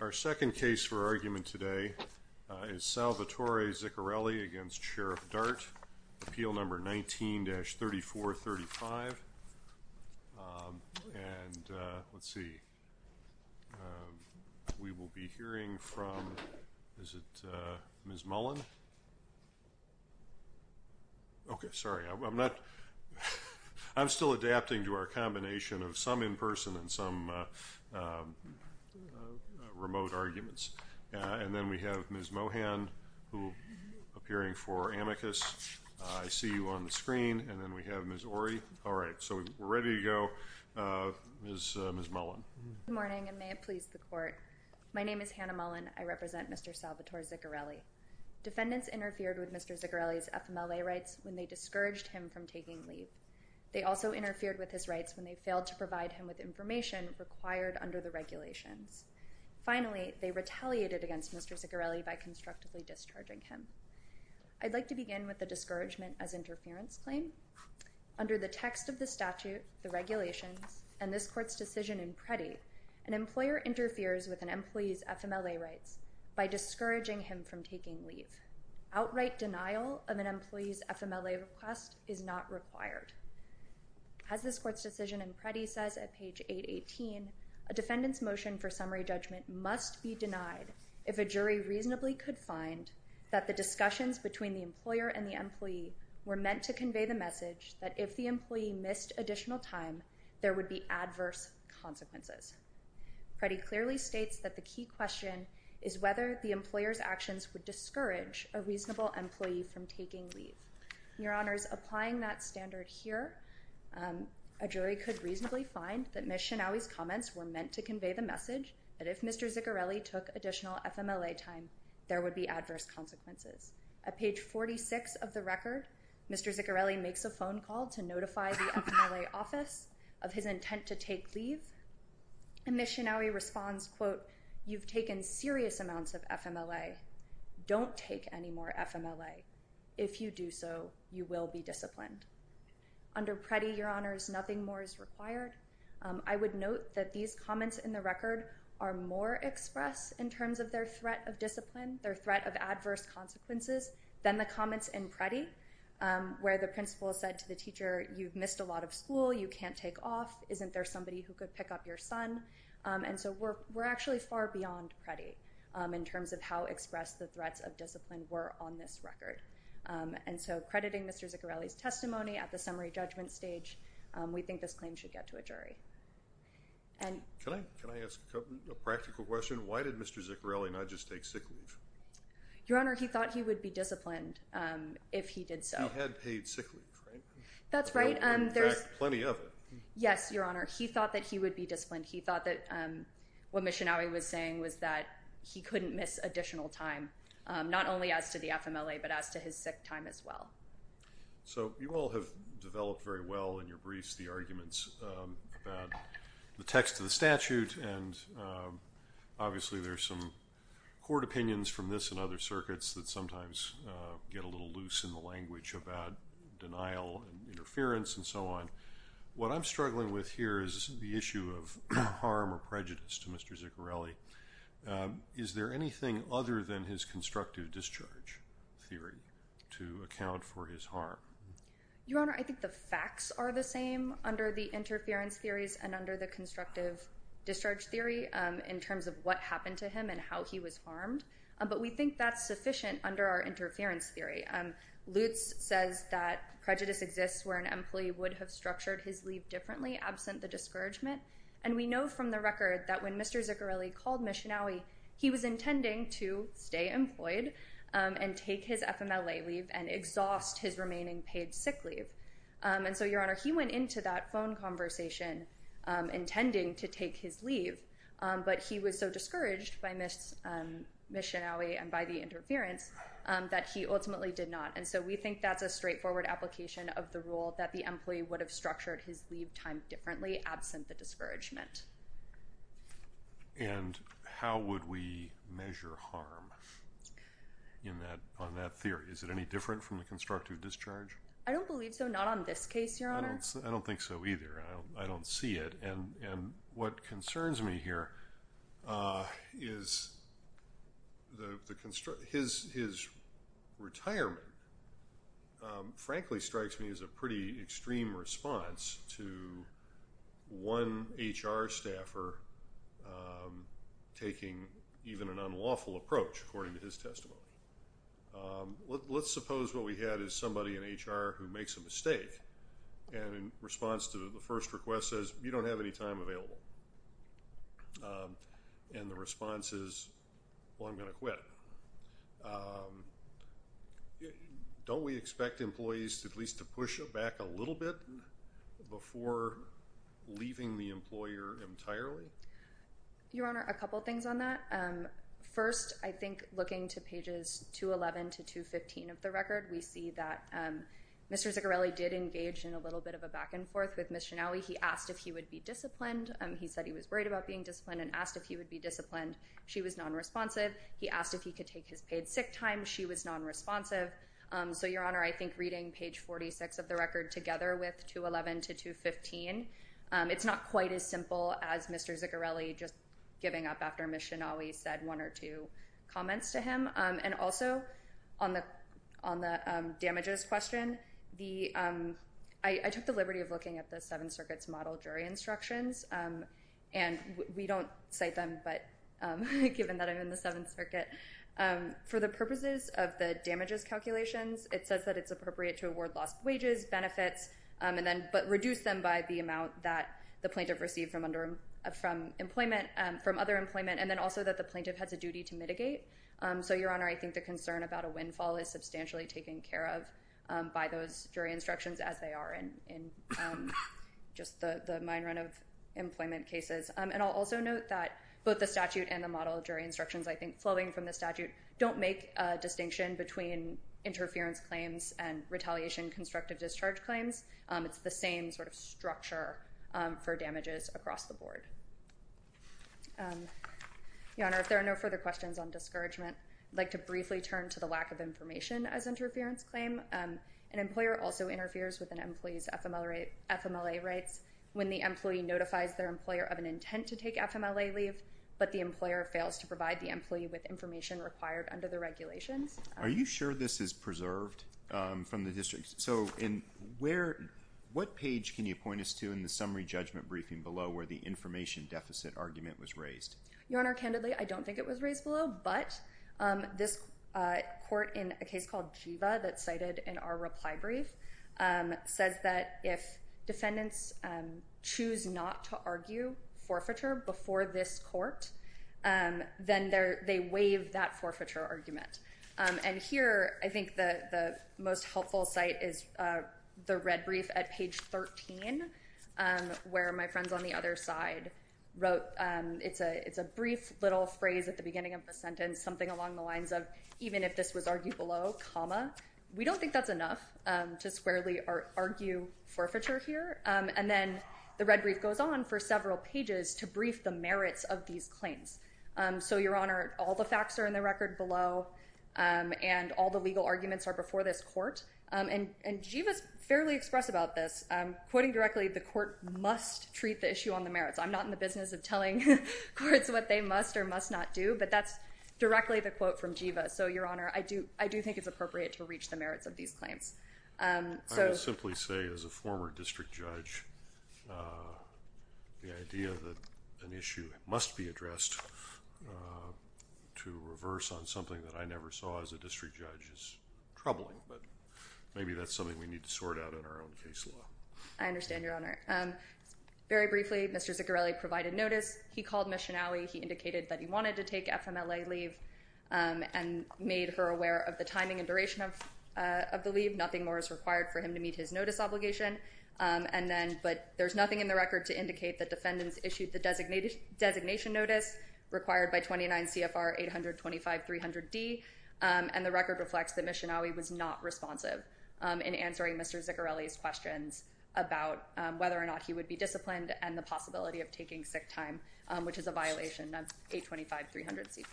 Our second case for argument today is Salvatore Ziccarelli v. Sheriff Dart, Appeal No. 19-3435. We will be hearing from Ms. Mullen. I am still adapting to our combination of some in-person and some remote arguments, and then we have Ms. Mohan, who is appearing for amicus, I see you on the screen, and then we have Ms. Ory, all right, so we're ready to go, Ms. Mullen. Good morning, and may it please the Court. My name is Hannah Mullen. I represent Mr. Salvatore Ziccarelli. Defendants interfered with Mr. Ziccarelli's FMLA rights when they discouraged him from taking leave. They also interfered with his rights when they failed to provide him with information required under the regulations. Finally, they retaliated against Mr. Ziccarelli by constructively discharging him. I'd like to begin with the discouragement as interference claim. Under the text of the statute, the regulations, and this Court's decision in Preddy, an employer interferes with an employee's FMLA rights by discouraging him from taking leave. Outright denial of an employee's FMLA request is not required. As this Court's decision in Preddy says at page 818, a defendant's motion for summary judgment must be denied if a jury reasonably could find that the discussions between the employer and the employee were meant to convey the message that if the employee missed additional time, there would be adverse consequences. Preddy clearly states that the key question is whether the employer's actions would discourage a reasonable employee from taking leave. Your Honors, applying that standard here, a jury could reasonably find that Ms. Shinawi's comments were meant to convey the message that if Mr. Ziccarelli took additional FMLA time, there would be adverse consequences. At page 46 of the record, Mr. Ziccarelli makes a phone call to notify the FMLA office of his intent to take leave, and Ms. Shinawi responds, quote, you've taken serious amounts of FMLA. Don't take any more FMLA. If you do so, you will be disciplined. Under Preddy, Your Honors, nothing more is required. I would note that these comments in the record are more expressed in terms of their threat of discipline, their threat of adverse consequences, than the comments in Preddy, where the principal said to the teacher, you've missed a lot of school, you can't take off, isn't there somebody who could pick up your son? And so we're actually far beyond Preddy in terms of how expressed the threats of discipline were on this record. And so crediting Mr. Ziccarelli's testimony at the summary judgment stage, we think this claim should get to a jury. Can I ask a practical question? Why did Mr. Ziccarelli not just take sick leave? Your Honor, he thought he would be disciplined if he did so. He had paid sick leave, right? That's right. In fact, plenty of it. Yes, Your Honor. He thought that he would be disciplined. He thought that what Missionary was saying was that he couldn't miss additional time, not only as to the FMLA, but as to his sick time as well. So you all have developed very well in your briefs the arguments about the text of the statute, and obviously there's some court opinions from this and other circuits that sometimes get a little loose in the language about denial and interference and so on. What I'm struggling with here is the issue of harm or prejudice to Mr. Ziccarelli. Is there anything other than his constructive discharge theory to account for his harm? Your Honor, I think the facts are the same under the interference theories and under the constructive discharge theory in terms of what happened to him and how he was harmed. But we think that's sufficient under our interference theory. Lutz says that prejudice exists where an employee would have structured his leave differently absent the discouragement. And we know from the record that when Mr. Ziccarelli called Missionary, he was intending to stay employed and take his FMLA leave and exhaust his remaining paid sick leave. And so, Your Honor, he went into that phone conversation intending to take his leave, but he was so discouraged by Missionary and by the interference that he ultimately did not. And so we think that's a straightforward application of the rule that the employee would have structured his leave time differently absent the discouragement. And how would we measure harm on that theory? Is it any different from the constructive discharge? I don't believe so. Not on this case, Your Honor. I don't think so either. I don't see it. And what concerns me here is his retirement, frankly, strikes me as a pretty extreme response to one HR staffer taking even an unlawful approach, according to his testimony. Let's suppose what we had is somebody in HR who makes a mistake and in response to the first request says, you don't have any time available. And the response is, well, I'm going to quit. Don't we expect employees to at least to push back a little bit before leaving the employer entirely? Your Honor, a couple things on that. First, I think looking to pages 211 to 215 of the record, we see that Mr. Ziccarelli did engage in a little bit of a back and forth with Missionary. He asked if he would be disciplined. He said he was worried about being disciplined and asked if he would be disciplined. She was non-responsive. He asked if he could take his paid sick time. She was non-responsive. So, Your Honor, I think reading page 46 of the record together with 211 to 215, it's not quite as simple as Mr. Ziccarelli just giving up after Missionary said one or two comments to him. And also, on the damages question, I took the liberty of looking at the Seventh Circuit's model jury instructions. And we don't cite them, but given that I'm in the Seventh Circuit, for the purposes of the damages calculations, it says that it's appropriate to award lost wages, benefits, but reduce them by the amount that the plaintiff received from other employment, and then also that the plaintiff has a duty to mitigate. So, Your Honor, I think the concern about a windfall is substantially taken care of by those jury instructions, as they are in just the mine run of employment cases. And I'll also note that both the statute and the model jury instructions, I think, flowing from the statute, don't make a distinction between interference claims and retaliation constructive discharge claims. It's the same sort of structure for damages across the board. Your Honor, if there are no further questions on discouragement, I'd like to briefly turn to the lack of information as interference claim. An employer also interferes with an employee's FMLA rights when the employee notifies their employer of an intent to take FMLA leave, but the employer fails to provide the employee with information required under the regulations. Are you sure this is preserved from the district? So, what page can you point us to in the summary judgment briefing below where the information deficit argument was raised? Your Honor, candidly, I don't think it was raised below. But this court in a case called Jiva that's cited in our reply brief says that if defendants choose not to argue forfeiture before this court, then they waive that forfeiture argument. And here, I think the most helpful site is the red brief at page 13, where my friends on the other side wrote, it's a brief little phrase at the beginning of the sentence, something along the lines of, even if this was argued below, comma, we don't think that's enough to squarely argue forfeiture here. And then the red brief goes on for several pages to brief the merits of these claims. So, Your Honor, all the facts are in the record below, and all the legal arguments are before this court. And Jiva's fairly express about this, quoting directly, the court must treat the issue on the merits. I'm not in the business of telling courts what they must or must not do, but that's directly the quote from Jiva. So, Your Honor, I do think it's appropriate to reach the merits of these claims. I would simply say, as a former district judge, the idea that an issue must be addressed to reverse on something that I never saw as a district judge is troubling, but maybe that's something we need to sort out in our own case law. I understand, Your Honor. Very briefly, Mr. Ziccarelli provided notice. He called Ms. Schenaui. He indicated that he wanted to take FMLA leave and made her aware of the timing and duration of the leave, nothing more is required for him to meet his notice obligation, but there's nothing in the record to indicate that defendants issued the designation notice required by 29 CFR 825-300-D, and the record reflects that Ms. Schenaui was not responsive in answering Mr. Ziccarelli's questions about whether or not he would be disciplined and the possibility of taking sick time, which is a violation of 825-300-C5.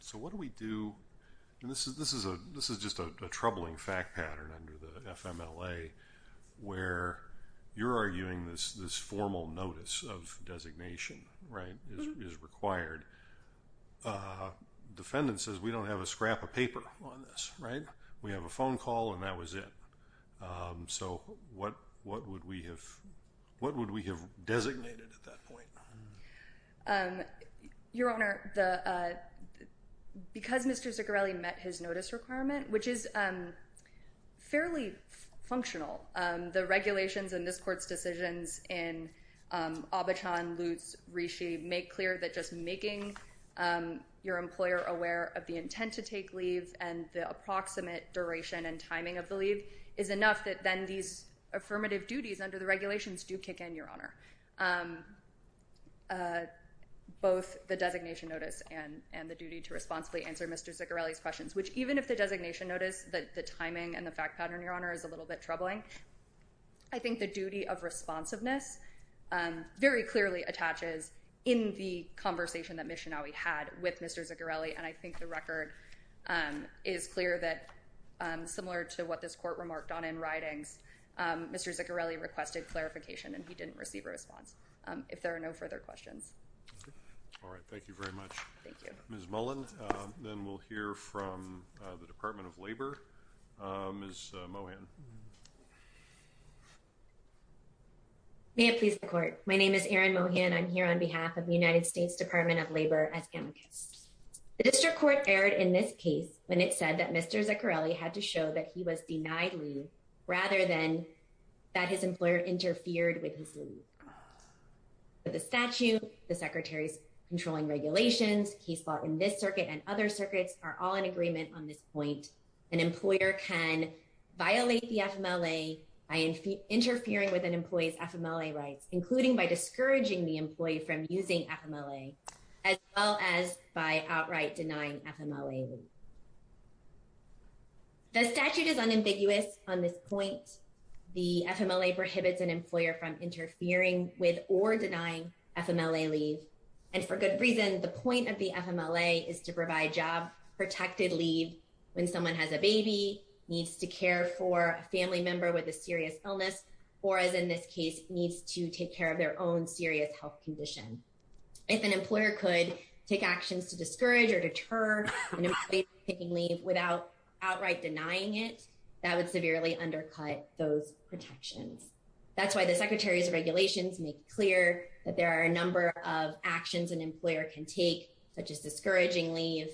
So what do we do? This is just a troubling fact pattern under the FMLA where you're arguing this formal notice of designation is required. Defendant says, we don't have a scrap of paper on this. We have a phone call, and that was it. So what would we have designated at that point? Your Honor, because Mr. Ziccarelli met his notice requirement, which is fairly functional, the regulations in this court's decisions in Abachon, Lutz, Rishi make clear that just making your employer aware of the intent to take leave and the approximate duration and timing of the leave is enough that then these affirmative duties under the regulations do kick in, Your Honor. Both the designation notice and the duty to responsibly answer Mr. Ziccarelli's questions, which even if the designation notice, the timing and the fact pattern, Your Honor, is a little bit troubling, I think the duty of responsiveness very clearly attaches in the conversation that Ms. Schenaui had with Mr. Ziccarelli, and I think the record is clear that, similar to what this court remarked on in writings, Mr. Ziccarelli requested clarification, and he didn't receive a response. If there are no further questions. All right. Thank you very much. Thank you. Ms. Mullen, then we'll hear from the Department of Labor. Ms. Mohan. May it please the Court. My name is Erin Mohan. I'm here on behalf of the United States Department of Labor as amicus. The district court erred in this case when it said that Mr. Ziccarelli had to show that he was denied leave, rather than that his employer interfered with his leave. The statute, the Secretary's controlling regulations, case law in this circuit and other circuits are all in agreement on this point. An employer can violate the FMLA by interfering with an employee's FMLA rights, including by discouraging the employee from using FMLA, as well as by outright denying FMLA leave. The statute is unambiguous on this point. The FMLA prohibits an employer from interfering with or denying FMLA leave, and for good reason. The point of the FMLA is to provide job-protected leave when someone has a baby, needs to care for a family member with a serious illness, or, as in this case, needs to take care of their own serious health condition. If an employer could take actions to discourage or deter an employee from taking leave without outright denying it, that would severely undercut those protections. That's why the Secretary's regulations make clear that there are a number of actions an employer can take, such as discouraging leave,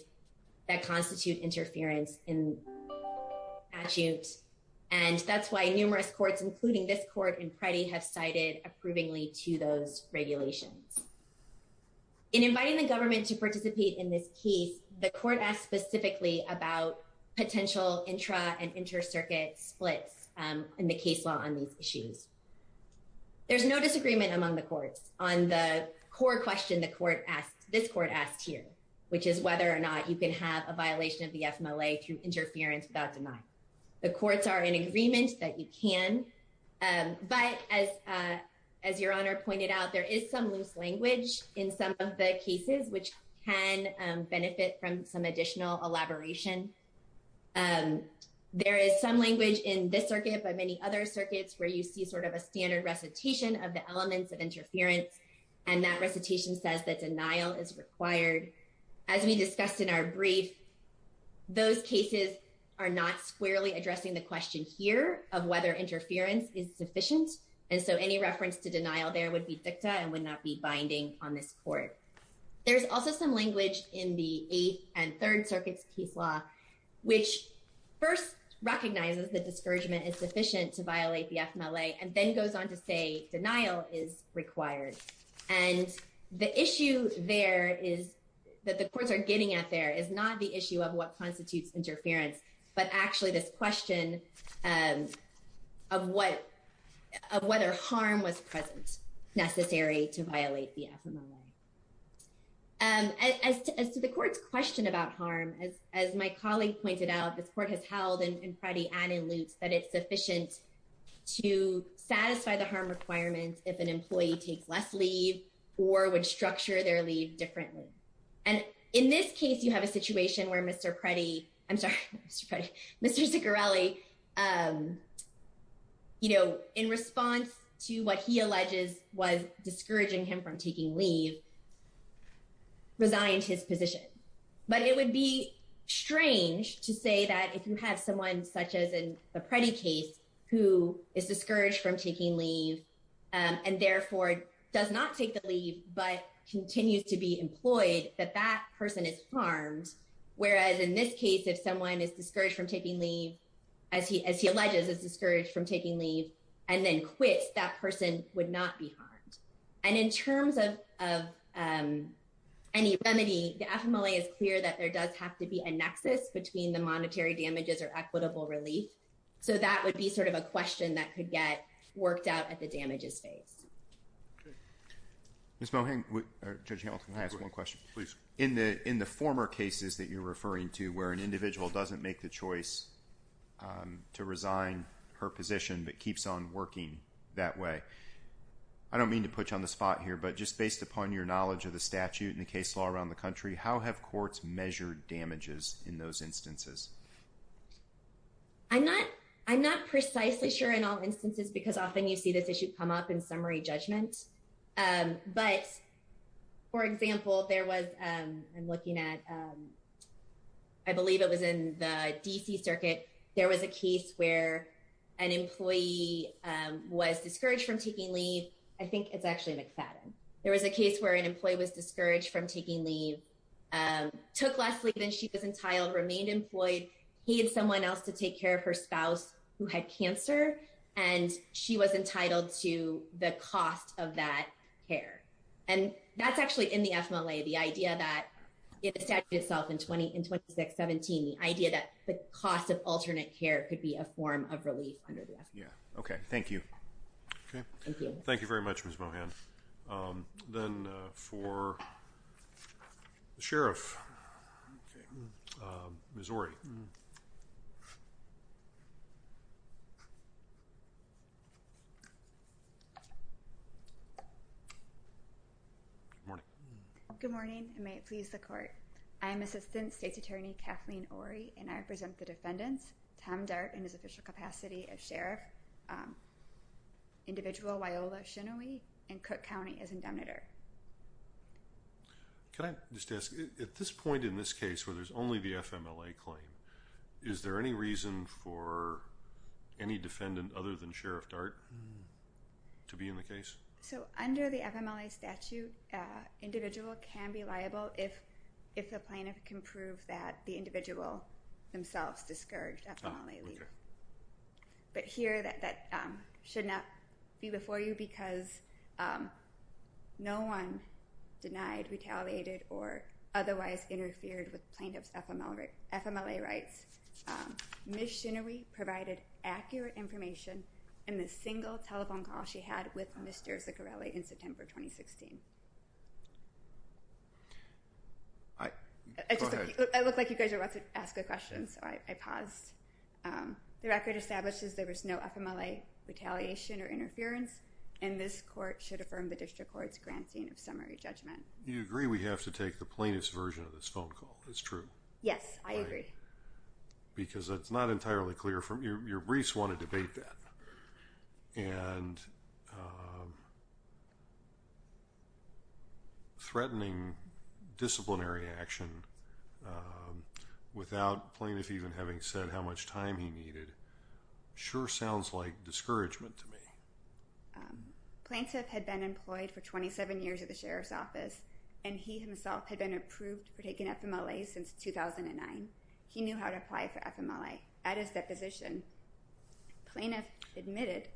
that constitute interference in the statute. And that's why numerous courts, including this court in Pretty, have cited approvingly to those regulations. In inviting the government to participate in this case, the court asked specifically about potential intra- and inter-circuit splits in the case law on these issues. There's no disagreement among the courts on the core question this court asked here, which is whether or not you can have a violation of the FMLA through interference without denying it. The courts are in agreement that you can, but as Your Honor pointed out, there is some loose language in some of the cases which can benefit from some additional elaboration. There is some language in this circuit, but many other circuits, where you see sort of a standard recitation of the elements of interference, and that recitation says that denial is required. As we discussed in our brief, those cases are not squarely addressing the question here of whether interference is sufficient, and so any reference to denial there would be dicta and would not be binding on this court. There's also some language in the Eighth and Third Circuits case law, which first recognizes that discouragement is sufficient to violate the FMLA, and then goes on to say denial is required. And the issue there is that the courts are getting at there is not the issue of what constitutes interference, but actually this question of whether harm was present necessary to violate the FMLA. As to the court's question about harm, as my colleague pointed out, this court has held in Preddy and in Lutz that it's sufficient to satisfy the harm requirements if an employee takes less leave or would structure their leave differently. And in this case, you have a situation where Mr. Preddy, I'm sorry, Mr. Ziccarelli, you know, in response to what he alleges was discouraging him from taking leave, resigned his position. But it would be strange to say that if you have someone such as in the Preddy case who is discouraged from taking leave and therefore does not take the leave but continues to be employed, that that person is harmed. Whereas in this case, if someone is discouraged from taking leave, as he alleges, is discouraged from taking leave and then quits, that person would not be harmed. And in terms of any remedy, the FMLA is clear that there does have to be a nexus between the monetary damages or equitable relief. So that would be sort of a question that could get worked out at the damages phase. Judge Hamilton, can I ask one question? Please. In the former cases that you're referring to where an individual doesn't make the choice to resign her position but keeps on working that way, I don't mean to put you on the spot here, but just based upon your knowledge of the statute and the case law around the country, how have courts measured damages in those instances? I'm not precisely sure in all instances because often you see this issue come up in summary judgment. But, for example, there was, I'm looking at, I believe it was in the D.C. Circuit, there was a case where an employee was discouraged from taking leave. I think it's actually McFadden. There was a case where an employee was discouraged from taking leave, took less leave than she was entitled, remained employed, paid someone else to take care of her spouse who had cancer, and she was entitled to the cost of that care. And that's actually in the FMLA, the idea that the statute itself in 2617, the idea that the cost of alternate care could be a form of relief under the FMLA. Okay, thank you. Thank you very much, Ms. Mohan. Then for the sheriff, Ms. Ory. Good morning. Good morning, and may it please the court. I am Assistant State's Attorney Kathleen Ory, and I represent the defendants, Tom Dart in his official capacity as sheriff, individual Waiola Shinawee in Cook County as indemnitor. Can I just ask, at this point in this case where there's only the FMLA claim, is there any reason for any defendant other than Sheriff Dart to be in the case? So under the FMLA statute, individual can be liable if the plaintiff can prove that the individual themselves discouraged FMLA leave. But here, that should not be before you because no one denied, retaliated, or otherwise interfered with plaintiff's FMLA rights. Ms. Shinawee provided accurate information in the single telephone call she had with Mr. Ziccarelli in September 2016. Go ahead. I look like you guys are about to ask a question, so I paused. The record establishes there was no FMLA retaliation or interference, and this court should affirm the district court's granting of summary judgment. Do you agree we have to take the plainest version of this phone call? It's true. Yes, I agree. Because it's not entirely clear. Your briefs want to debate that. And threatening disciplinary action without plaintiff even having said how much time he needed sure sounds like discouragement to me. Plaintiff had been employed for 27 years at the Sheriff's Office, and he himself had been approved for taking FMLA since 2009. He knew how to apply for FMLA. At his deposition, plaintiff admitted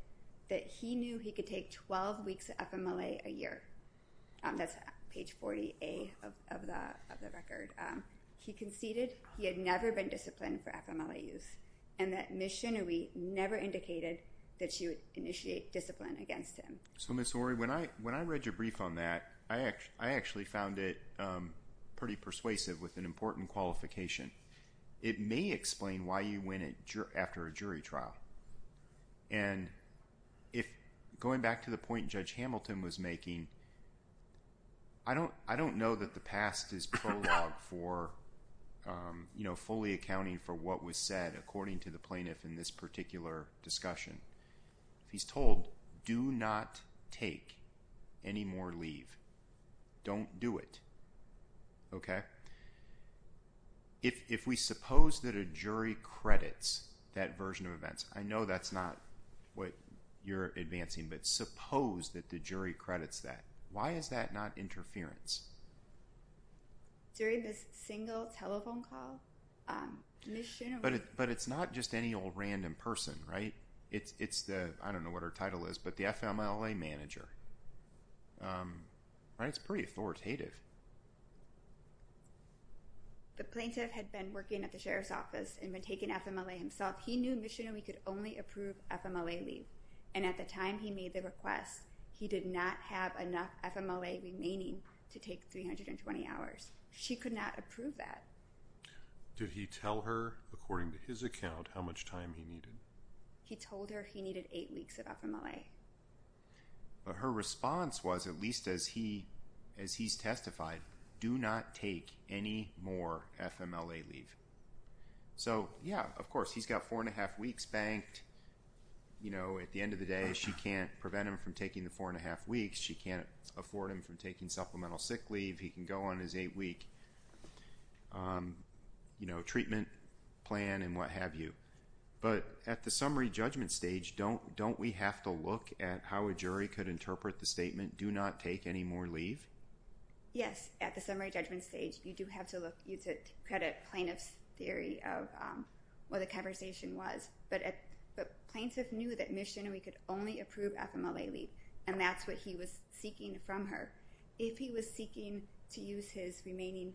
that he knew he could take 12 weeks of FMLA a year. That's page 40A of the record. He conceded he had never been disciplined for FMLA use, and that Ms. Shinawee never indicated that she would initiate discipline against him. So, Ms. Orey, when I read your brief on that, I actually found it pretty persuasive with an important qualification. It may explain why you win after a jury trial. And going back to the point Judge Hamilton was making, I don't know that the past is prologue for fully accounting for what was said according to the plaintiff in this particular discussion. He's told, do not take any more leave. Don't do it. Okay. If we suppose that a jury credits that version of events, I know that's not what you're advancing, but suppose that the jury credits that. Why is that not interference? During this single telephone call, Ms. Shinawee... But it's not just any old random person, right? It's the, I don't know what her title is, but the FMLA manager. It's pretty authoritative. The plaintiff had been working at the sheriff's office and had taken FMLA himself. He knew Ms. Shinawee could only approve FMLA leave. And at the time he made the request, he did not have enough FMLA remaining to take 320 hours. She could not approve that. Did he tell her, according to his account, how much time he needed? He told her he needed eight weeks of FMLA. But her response was, at least as he's testified, do not take any more FMLA leave. So, yeah, of course, he's got four and a half weeks banked. At the end of the day, she can't prevent him from taking the four and a half weeks. She can't afford him from taking supplemental sick leave. He can go on his eight-week treatment plan and what have you. But at the summary judgment stage, don't we have to look at how a jury could interpret the statement, do not take any more leave? Yes. At the summary judgment stage, you do have to credit plaintiff's theory of what the conversation was. But the plaintiff knew that Ms. Shinawee could only approve FMLA leave, and that's what he was seeking from her. If he was seeking to use his remaining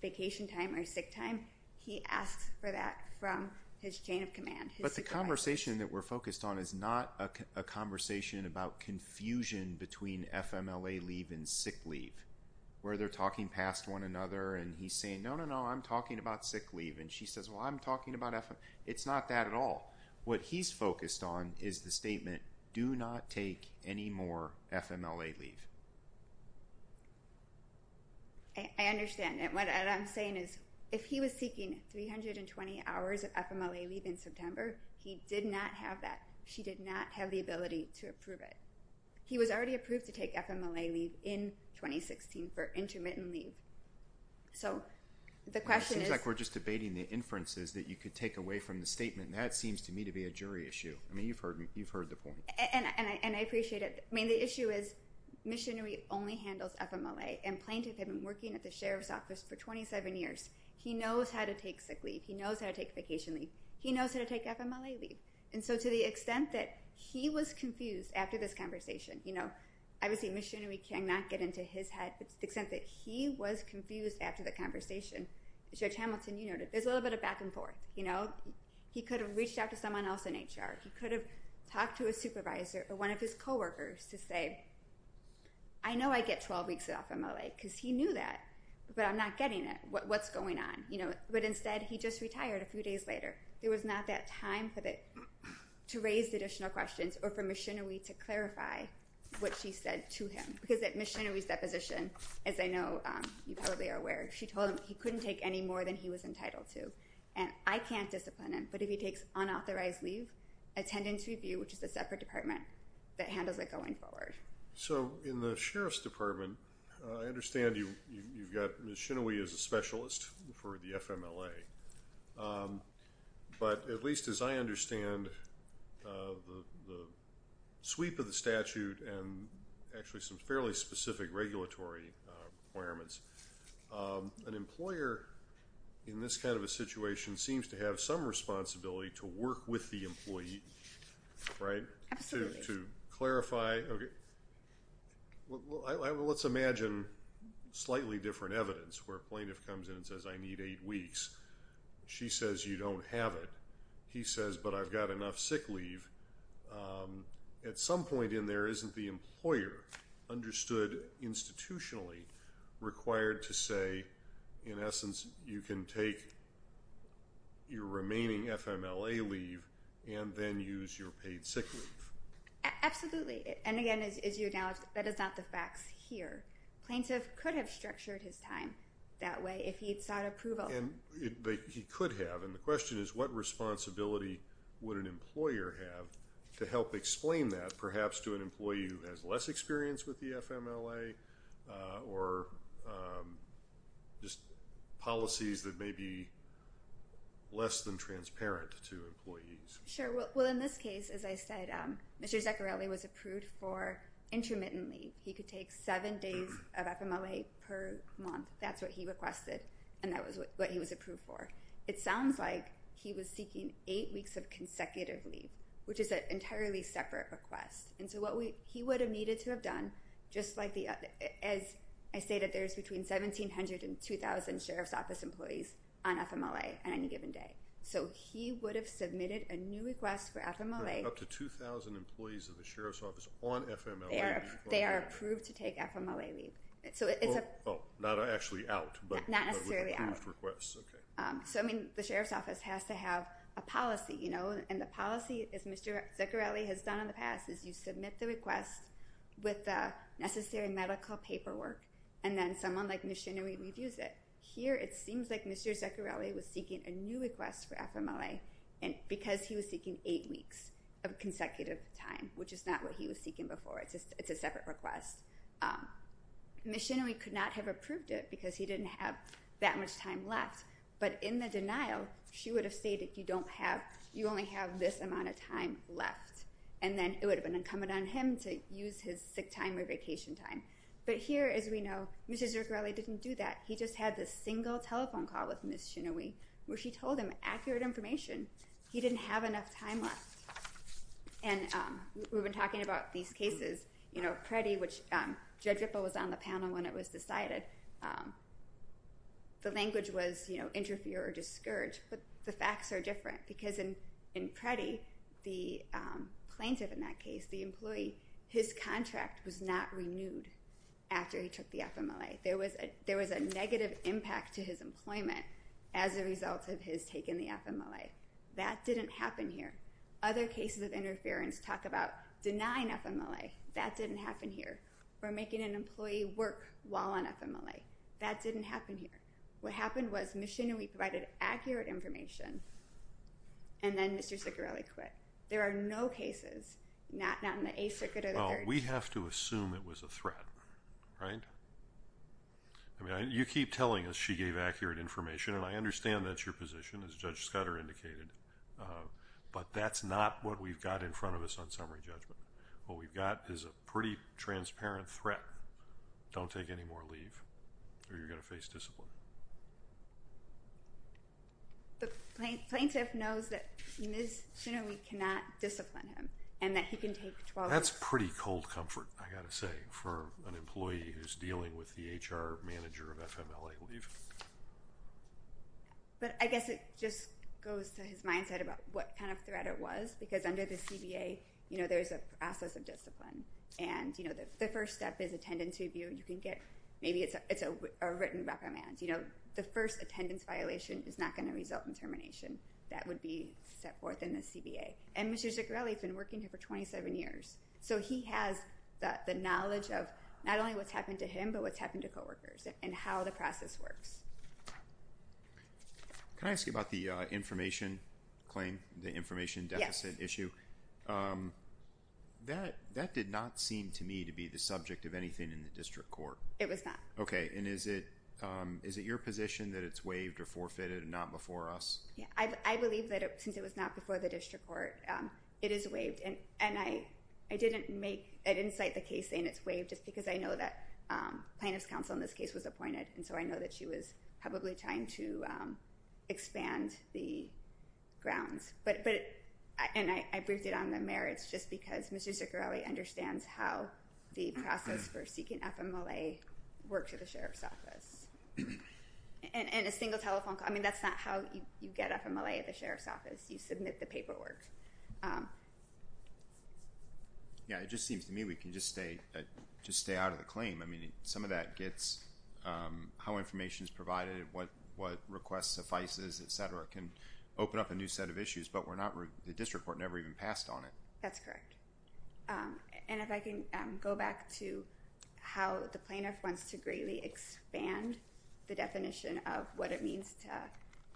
vacation time or sick time, he asks for that from his chain of command. But the conversation that we're focused on is not a conversation about confusion between FMLA leave and sick leave, where they're talking past one another, and he's saying, no, no, no, I'm talking about sick leave. And she says, well, I'm talking about FMLA. It's not that at all. What he's focused on is the statement, do not take any more FMLA leave. I understand. And what I'm saying is if he was seeking 320 hours of FMLA leave in September, he did not have that. She did not have the ability to approve it. He was already approved to take FMLA leave in 2016 for intermittent leave. So the question is – It seems like we're just debating the inferences that you could take away from the statement. That seems to me to be a jury issue. I mean, you've heard the point. And I appreciate it. I mean, the issue is Ms. Shinawee only handles FMLA, and plaintiff had been working at the sheriff's office for 27 years. He knows how to take sick leave. He knows how to take vacation leave. He knows how to take FMLA leave. And so to the extent that he was confused after this conversation, obviously Ms. Shinawee cannot get into his head, but to the extent that he was confused after the conversation, Judge Hamilton, you noted, there's a little bit of back and forth. He could have reached out to someone else in HR. He could have talked to a supervisor or one of his coworkers to say, I know I get 12 weeks off FMLA because he knew that, but I'm not getting it. What's going on? But instead he just retired a few days later. There was not that time to raise additional questions or for Ms. Shinawee to clarify what she said to him. Because Ms. Shinawee's deposition, as I know you probably are aware, she told him he couldn't take any more than he was entitled to. And I can't discipline him, but if he takes unauthorized leave, which is a separate department that handles it going forward. So in the Sheriff's Department, I understand you've got Ms. Shinawee as a specialist for the FMLA. But at least as I understand the sweep of the statute and actually some fairly specific regulatory requirements, an employer in this kind of a situation seems to have some responsibility to work with the employee, right, to clarify. Let's imagine slightly different evidence where a plaintiff comes in and says I need eight weeks. She says you don't have it. He says, but I've got enough sick leave. At some point in there, isn't the employer understood institutionally required to say in essence you can take your remaining FMLA leave and then use your paid sick leave? Absolutely. And again, as you acknowledge, that is not the facts here. Plaintiff could have structured his time that way if he had sought approval. He could have. And the question is what responsibility would an employer have to help explain that perhaps to an employee who has less experience with the FMLA or just policies that may be less than transparent to employees? Sure. Well, in this case, as I said, Mr. Zaccarelli was approved for intermittent leave. He could take seven days of FMLA per month. That's what he requested, and that was what he was approved for. It sounds like he was seeking eight weeks of consecutive leave, which is an entirely separate request. And so what he would have needed to have done, just like I stated, there's between 1,700 and 2,000 sheriff's office employees on FMLA on any given day. So he would have submitted a new request for FMLA. There are up to 2,000 employees in the sheriff's office on FMLA. They are approved to take FMLA leave. Oh, not actually out, but with approved requests. Not necessarily out. Okay. So, I mean, the sheriff's office has to have a policy, you know, and the policy, as Mr. Zaccarelli has done in the past, is you submit the request with the necessary medical paperwork, and then someone like Ms. Shinery reviews it. Here it seems like Mr. Zaccarelli was seeking a new request for FMLA because he was seeking eight weeks of consecutive time, which is not what he was seeking before. It's a separate request. Ms. Shinery could not have approved it because he didn't have that much time left. But in the denial, she would have stated you don't have, you only have this amount of time left. And then it would have been incumbent on him to use his sick time or vacation time. But here, as we know, Mr. Zaccarelli didn't do that. He just had this single telephone call with Ms. Shinery, where she told him accurate information. He didn't have enough time left. And we've been talking about these cases, you know, Preddy, which Judge Ripple was on the panel when it was decided. The language was, you know, interfere or discourage. But the facts are different because in Preddy, the plaintiff in that case, the employee, his contract was not renewed after he took the FMLA. There was a negative impact to his employment as a result of his taking the FMLA. That didn't happen here. Other cases of interference talk about denying FMLA. That didn't happen here. Or making an employee work while on FMLA. That didn't happen here. What happened was Ms. Shinery provided accurate information, and then Mr. Zaccarelli quit. There are no cases, not in the Eighth Circuit or the Third. We have to assume it was a threat, right? I mean, you keep telling us she gave accurate information, and I understand that's your position, as Judge Scudder indicated. But that's not what we've got in front of us on summary judgment. What we've got is a pretty transparent threat. Don't take any more leave or you're going to face discipline. The plaintiff knows that Ms. Shinery cannot discipline him and that he can take 12 years. That's pretty cold comfort, I've got to say, for an employee who's dealing with the HR manager of FMLA leave. But I guess it just goes to his mindset about what kind of threat it was because under the CBA there's a process of discipline, and the first step is attendance review. Maybe it's a written recommend. The first attendance violation is not going to result in termination. That would be set forth in the CBA. And Mr. Zaccarelli has been working here for 27 years, so he has the knowledge of not only what's happened to him but what's happened to coworkers and how the process works. Can I ask you about the information claim, the information deficit issue? Yes. That did not seem to me to be the subject of anything in the district court. It was not. Okay. And is it your position that it's waived or forfeited and not before us? I believe that since it was not before the district court, it is waived. And I didn't cite the case saying it's waived just because I know that plaintiff's counsel in this case was appointed, and so I know that she was probably trying to expand the grounds. And I briefed it on the merits just because Mr. Zaccarelli understands how the process for seeking FMLA works at the sheriff's office. And a single telephone call, I mean, that's not how you get FMLA at the sheriff's office. You submit the paperwork. Yeah, it just seems to me we can just stay out of the claim. I mean, some of that gets how information is provided, what requests suffices, et cetera, can open up a new set of issues. But the district court never even passed on it. That's correct. And if I can go back to how the plaintiff wants to greatly expand the definition of what it means to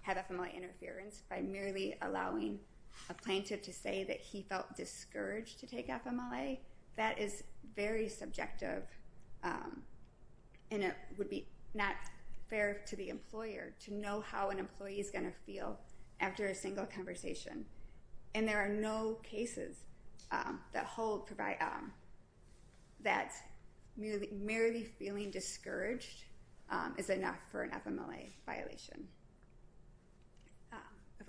have FMLA interference by merely allowing a plaintiff to say that he felt discouraged to take FMLA, that is very subjective, and it would be not fair to the employer to know how an employee is going to feel after a single conversation. And there are no cases that hold that merely feeling discouraged is enough for an FMLA violation. If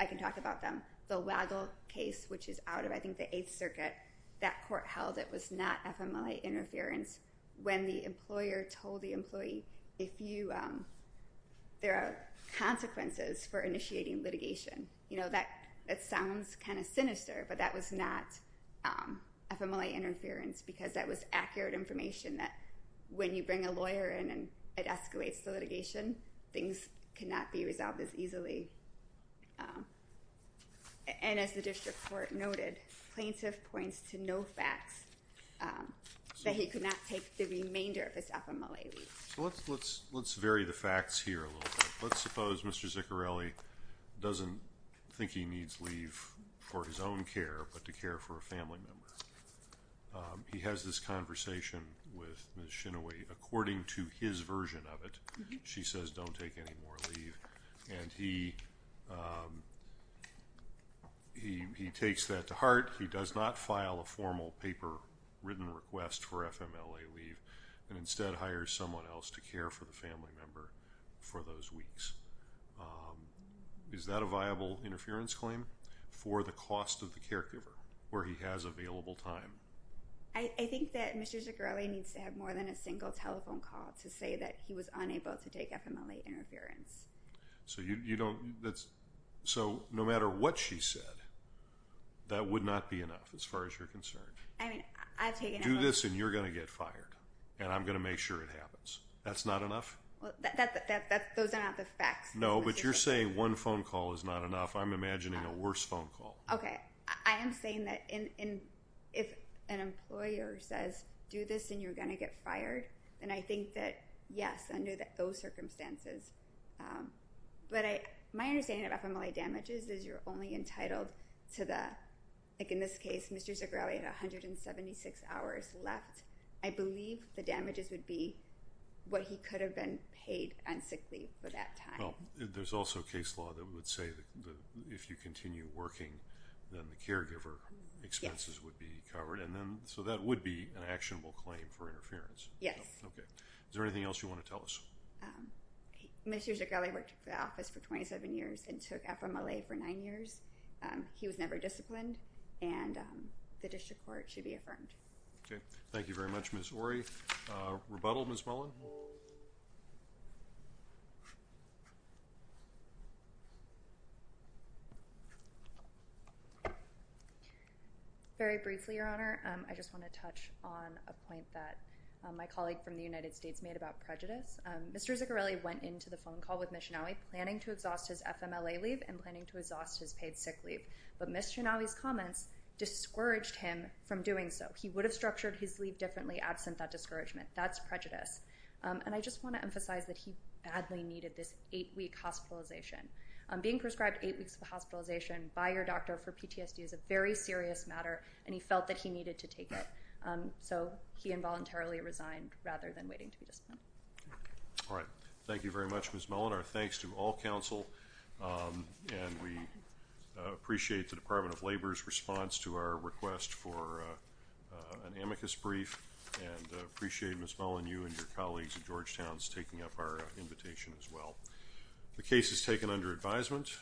I can talk about them. The Waddell case, which is out of, I think, the Eighth Circuit, that court held it was not FMLA interference when the employer told the employee there are consequences for initiating litigation. That sounds kind of sinister, but that was not FMLA interference because that was accurate information that when you bring a lawyer in and it escalates the litigation, things cannot be resolved as easily. And as the district court noted, plaintiff points to no facts that he could not take the remainder of his FMLA leave. Let's vary the facts here a little bit. Let's suppose Mr. Ziccarelli doesn't think he needs leave for his own care but to care for a family member. He has this conversation with Ms. Shinaway. According to his version of it, she says don't take any more leave. And he takes that to heart. He does not file a formal paper written request for FMLA leave and instead hires someone else to care for the family member for those weeks. Is that a viable interference claim? For the cost of the caregiver where he has available time. I think that Mr. Ziccarelli needs to have more than a single telephone call to say that he was unable to take FMLA interference. So no matter what she said, that would not be enough as far as you're concerned. Do this and you're going to get fired, and I'm going to make sure it happens. That's not enough? Those are not the facts. No, but you're saying one phone call is not enough. I'm imagining a worse phone call. Okay. I am saying that if an employer says do this and you're going to get fired, then I think that, yes, under those circumstances. But my understanding of FMLA damages is you're only entitled to the, like in this case, Mr. Ziccarelli had 176 hours left. I believe the damages would be what he could have been paid on sick leave for that time. Well, there's also case law that would say that if you continue working, then the caregiver expenses would be covered. So that would be an actionable claim for interference. Yes. Okay. Is there anything else you want to tell us? Mr. Ziccarelli worked for the office for 27 years and took FMLA for nine years. He was never disciplined, and the district court should be affirmed. Okay. Thank you very much, Ms. Orey. Rebuttal, Ms. Mullen. Very briefly, Your Honor, I just want to touch on a point that my colleague from the United States made about prejudice. Mr. Ziccarelli went into the phone call with Ms. Chenaui planning to exhaust his FMLA leave and planning to exhaust his paid sick leave. But Ms. Chenaui's comments discouraged him from doing so. He would have structured his leave differently absent that discouragement. That's prejudice. And I just want to emphasize that he badly needed this eight-week hospitalization. Being prescribed eight weeks of hospitalization by your doctor for PTSD is a very serious matter, and he felt that he needed to take it. So he involuntarily resigned rather than waiting to be disciplined. All right. Thank you very much, Ms. Mullen. Our thanks to all counsel, and we appreciate the Department of Labor's response to our request for an amicus brief and appreciate Ms. Mullen, you and your colleagues at Georgetown's taking up our invitation as well. The case is taken under advisement.